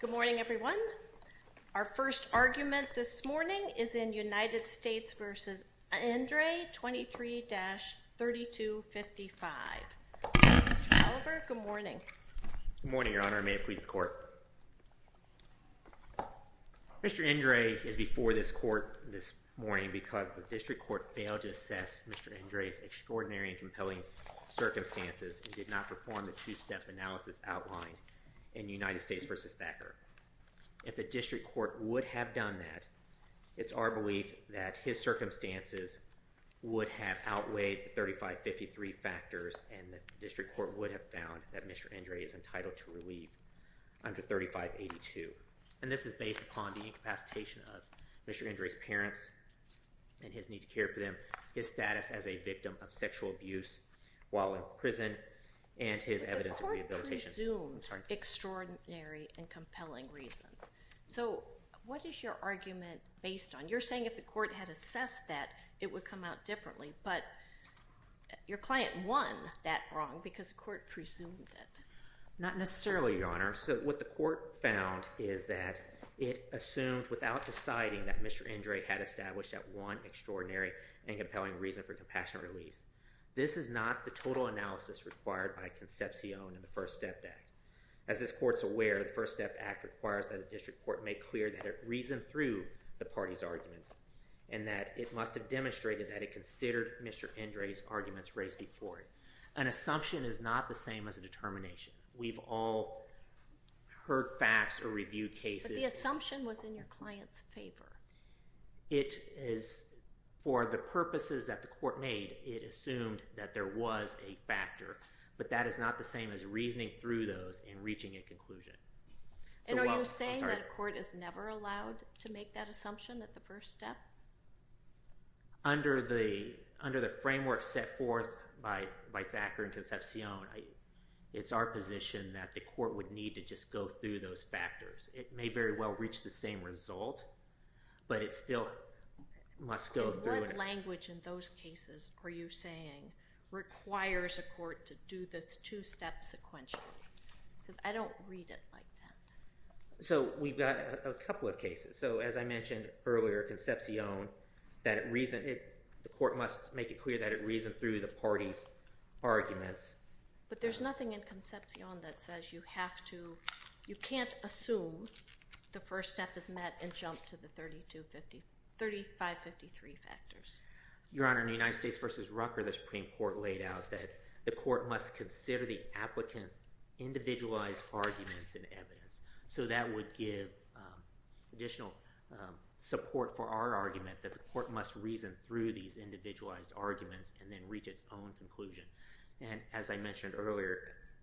Good morning, everyone. Our first argument this morning is in United States v. Endre 23-3255. Mr. Oliver, good morning. Good morning, Your Honor. May it please the Court. Mr. Endre is before this Court this morning because the District Court failed to assess Mr. Endre's extraordinary and compelling circumstances and did not perform the two-step analysis outlined in United States v. Thacker. If the District Court would have done that, it's our belief that his circumstances would have outweighed the 3553 factors and the District Court would have found that Mr. Endre is entitled to relief under 3582. And this is based upon the incapacitation of Mr. Endre's parents and his need to care for them, his status as a victim of sexual abuse while in prison, and his evidence of rehabilitation. The Court presumed extraordinary and compelling reasons. So what is your argument based on? You're saying if the Court had assessed that, it would come out differently, but your client won that wrong because the Court presumed it. Not necessarily, Your Honor. So what the Court found is that it assumed without deciding that Mr. Endre had established that one extraordinary and compelling reason for compassionate release. This is not the total analysis required by Concepcion in the First Step Act. As this Court's aware, the First Step Act requires that the District Court make clear that it reasoned through the party's arguments and that it must have demonstrated that it considered Mr. Endre's arguments raised before it. An assumption is not the same as a determination. We've all heard facts or reviewed cases. But the assumption was in your client's favor. It is for the purposes that the Court made, it assumed that there was a factor, but that is not the same as reasoning through those and reaching a conclusion. And are you saying that a court is never allowed to make that assumption at the first step? Under the framework set forth by Thacker and Concepcion, it's our position that the Court would need to just go through those factors. It may very well reach the same result, but it still must go through. And what language in those cases are you saying requires a court to do this two-step sequentially? Because I don't read it like that. So we've got a couple of cases. So as I mentioned earlier, Concepcion, the Court must make it clear that it reasoned through the party's arguments. But there's nothing in Concepcion that says you have to, you can't assume the first step is met and jump to the 3553 factors. Your Honor, in the United States v. Rucker, the Supreme Court laid out that the Court must consider the applicant's individualized arguments and evidence. So that would give additional support for our argument that the Court must reason through these individualized arguments and then reach its own conclusion. And as I mentioned earlier,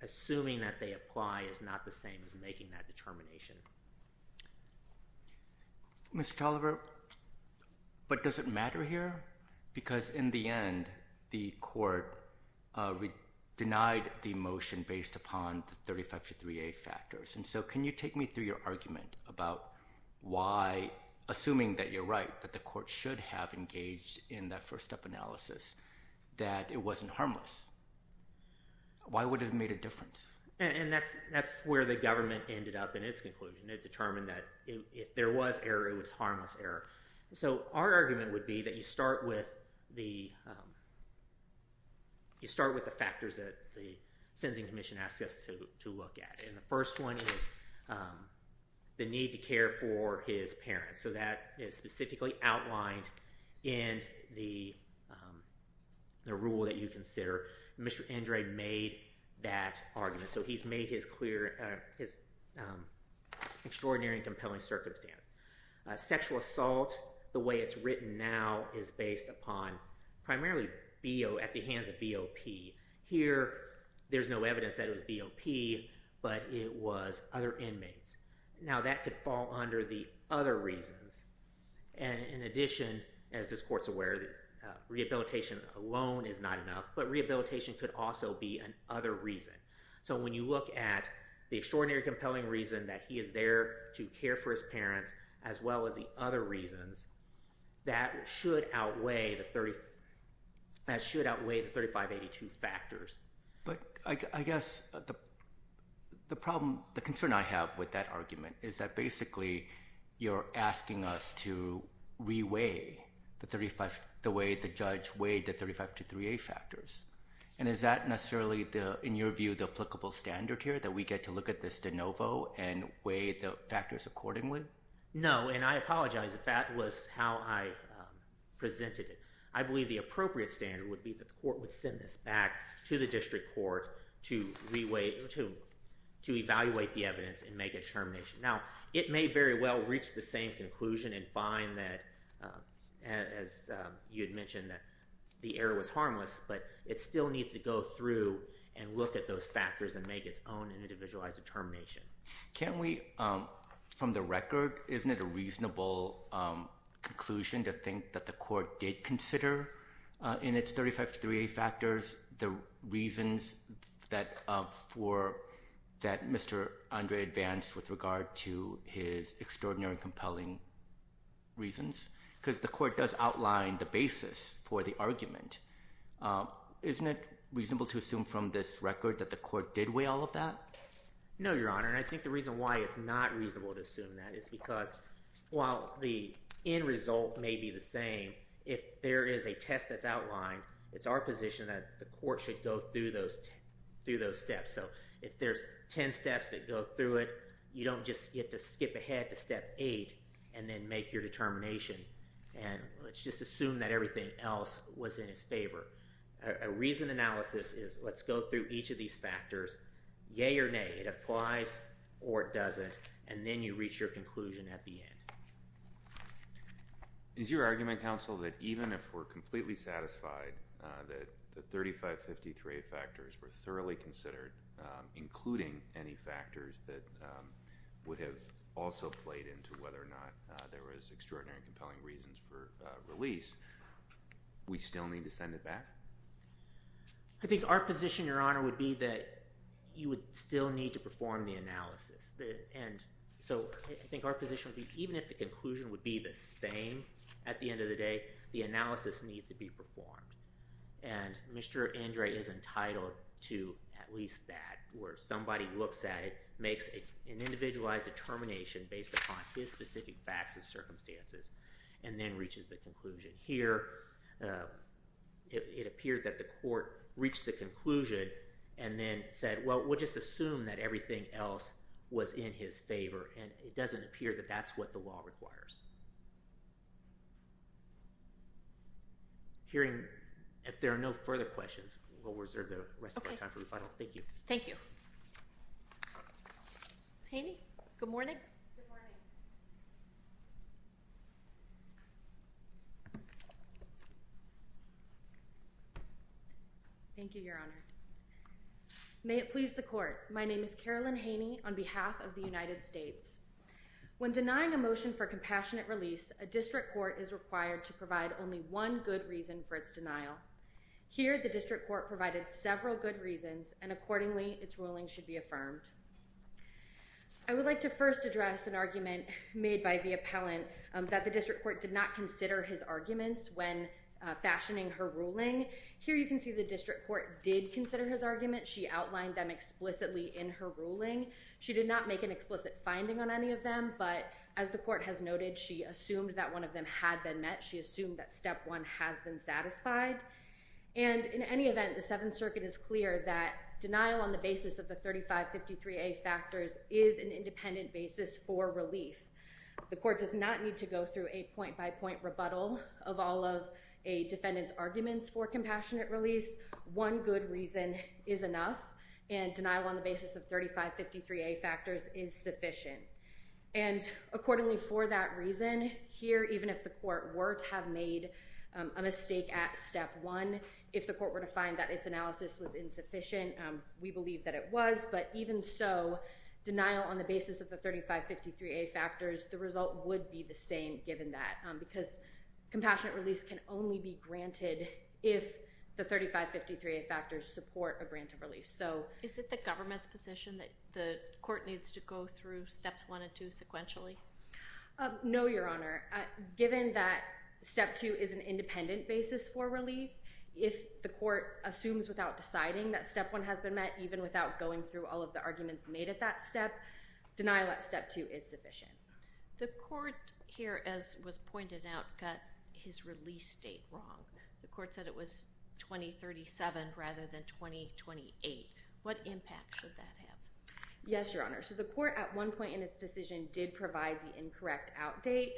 assuming that they apply is not the same as making that determination. Mr. Toliver, but does it matter here? Because in the end, the Court denied the motion based upon the 3553A factors. And so can you take me through your argument about why, assuming that you're right, that the Court should have engaged in that first step analysis, that it wasn't harmless? Why would it have made a difference? And that's where the government ended up in its conclusion. It determined that if there was error, it was harmless error. So our argument would be that you start with the factors that the Sentencing Commission asks us to look at. And the first one is the need to care for his parents. So that is specifically outlined in the rule that you consider. Mr. Andrade made that argument. So he's made his extraordinary and compelling circumstance. Sexual assault, the way it's written now, is based upon primarily at the hands of BOP. Here, there's no evidence that it was BOP, but it was other inmates. Now that could fall under the other reasons. And in addition, as this Court's aware, rehabilitation alone is not enough, but rehabilitation could also be an other reason. So when you look at the extraordinary, compelling reason that he is there to care for his parents, as well as the other reasons, that should outweigh the 3582 factors. But I guess the problem, the concern I have with that argument is that basically you're asking us to re-weigh the 35, the way the judge weighed the 3523A factors. And is that necessarily the, in your view, the applicable standard here, that we get to look at this de novo and weigh the factors accordingly? No, and I apologize if that was how I presented it. I believe the appropriate standard would be that the Court would send this back to the District Court to re-weigh, to evaluate the evidence and make a determination. Now, it may very well reach the same conclusion and find that, as you had mentioned, that the error was harmless, but it still needs to go through and look at those factors and make its own individualized determination. Can we, from the record, isn't it a reasonable conclusion to think that the Court did consider in its 3523A factors the reasons that Mr. Andre advanced with regard to his extraordinary, compelling reasons? Because the Court does outline the basis for the argument. Isn't it reasonable to assume from this record that the Court did weigh all of that? No, Your Honor, and I think the reason why it's not reasonable to assume that is because, while the end result may be the same, if there is a test that's outlined, it's our position that the Court should go through those steps. So, if there's 10 steps that go through it, you don't just get to skip ahead to step 8 and then make your determination and let's just assume that everything else was in its favor. A reasoned analysis is, let's go through each of these factors, yea or nay, it applies or it doesn't, and then you reach your conclusion at the end. Is your argument, counsel, that even if we're completely satisfied that the 3553A factors were thoroughly considered, including any factors that would have also played into whether or not there was extraordinary and compelling reasons for release, we still need to send it back? I think our position, Your Honor, would be that you would still need to perform the analysis. And so, I think our position would be, even if the conclusion would be the same at the end of the day, the analysis needs to be performed. And Mr. Andre is entitled to at least that, where somebody looks at it, makes an individualized determination based upon his specific facts and circumstances, and then reaches the conclusion. Here, it appeared that the Court reached the conclusion and then said, well, we'll just assume that everything else was in his favor, and it doesn't appear that that's what the law requires. If there are no further questions, we'll reserve the rest of our time for rebuttal. Thank you. Thank you. Ms. Haney, good morning. Good morning. Thank you, Your Honor. May it please the Court, my name is Carolyn Haney, on behalf of the United States. When denying a motion for compassionate release, a district court is required to provide only one good reason for its denial. Here, the district court provided several good reasons, and accordingly, its ruling should be affirmed. I would like to first address an argument made by the appellant that the district court did not consider his arguments when fashioning her ruling. Here, you can see the district court did consider his argument. She outlined them explicitly in her ruling. She did not make an explicit finding on any of them, but, as the court has noted, she assumed that one of them had been met. She assumed that step one has been satisfied. And, in any event, the Seventh Circuit is clear that denial on the basis of the 3553A factors is an independent basis for relief. The court does not need to go through a point-by-point rebuttal of all of a defendant's arguments for compassionate release. One good reason is enough, and denial on the basis of 3553A factors is sufficient. And, accordingly, for that reason, here, even if the court were to have made a mistake at step one, if the court were to find that its analysis was insufficient, we believe that it was. But, even so, denial on the basis of the 3553A factors, the result would be the same, given that. Because compassionate release can only be granted if the 3553A factors support a grant of relief. Is it the government's position that the court needs to go through steps one and two sequentially? No, Your Honor. Given that step two is an independent basis for relief, if the court assumes without deciding that step one has been met, even without going through all of the arguments made at that step, denial at step two is sufficient. The court, here, as was pointed out, got his release date wrong. The court said it was 2037 rather than 2028. What impact should that have? Yes, Your Honor. So, the court, at one point in its decision, did provide the incorrect out date.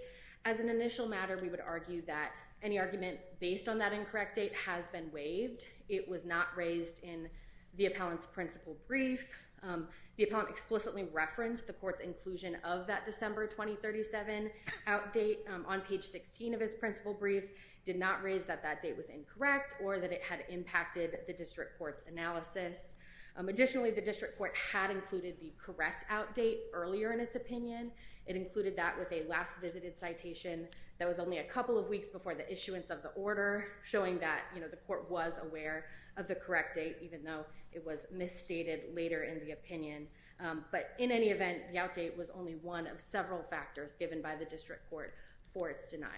As an initial matter, we would argue that any argument based on that incorrect date has been waived. It was not raised in the appellant's principal brief. The appellant explicitly referenced the court's inclusion of that December 2037 out date on page 16 of his principal brief. It did not raise that that date was incorrect or that it had impacted the district court's analysis. Additionally, the district court had included the correct out date earlier in its opinion. It included that with a last visited citation that was only a couple of weeks before the issuance of the order, showing that the court was aware of the correct date, even though it was misstated later in the opinion. But, in any event, the out date was only one of several factors given by the district court for its denial.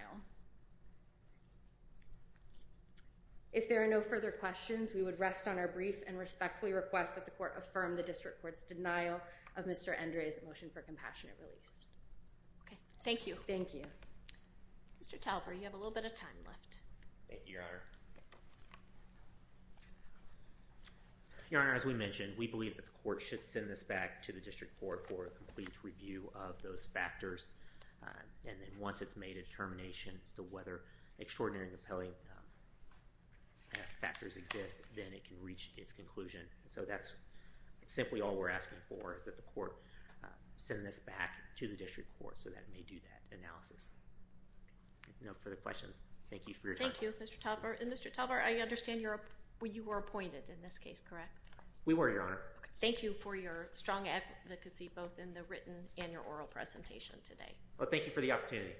If there are no further questions, we would rest on our brief and respectfully request that the court affirm the district court's denial of Mr. Andres' motion for compassionate release. Okay. Thank you. Thank you. Mr. Talver, you have a little bit of time left. Thank you, Your Honor. Your Honor, as we mentioned, we believe that the court should send this back to the district court for a complete review of those factors. And then once it's made a determination as to whether extraordinary compelling factors exist, then it can reach its conclusion. So that's simply all we're asking for is that the court send this back to the district court so that it may do that analysis. No further questions. Thank you for your time. Thank you, Mr. Talver. And, Mr. Talver, I understand you were appointed in this case, correct? We were, Your Honor. Thank you for your strong advocacy both in the written and your oral presentation today. Well, thank you for the opportunity.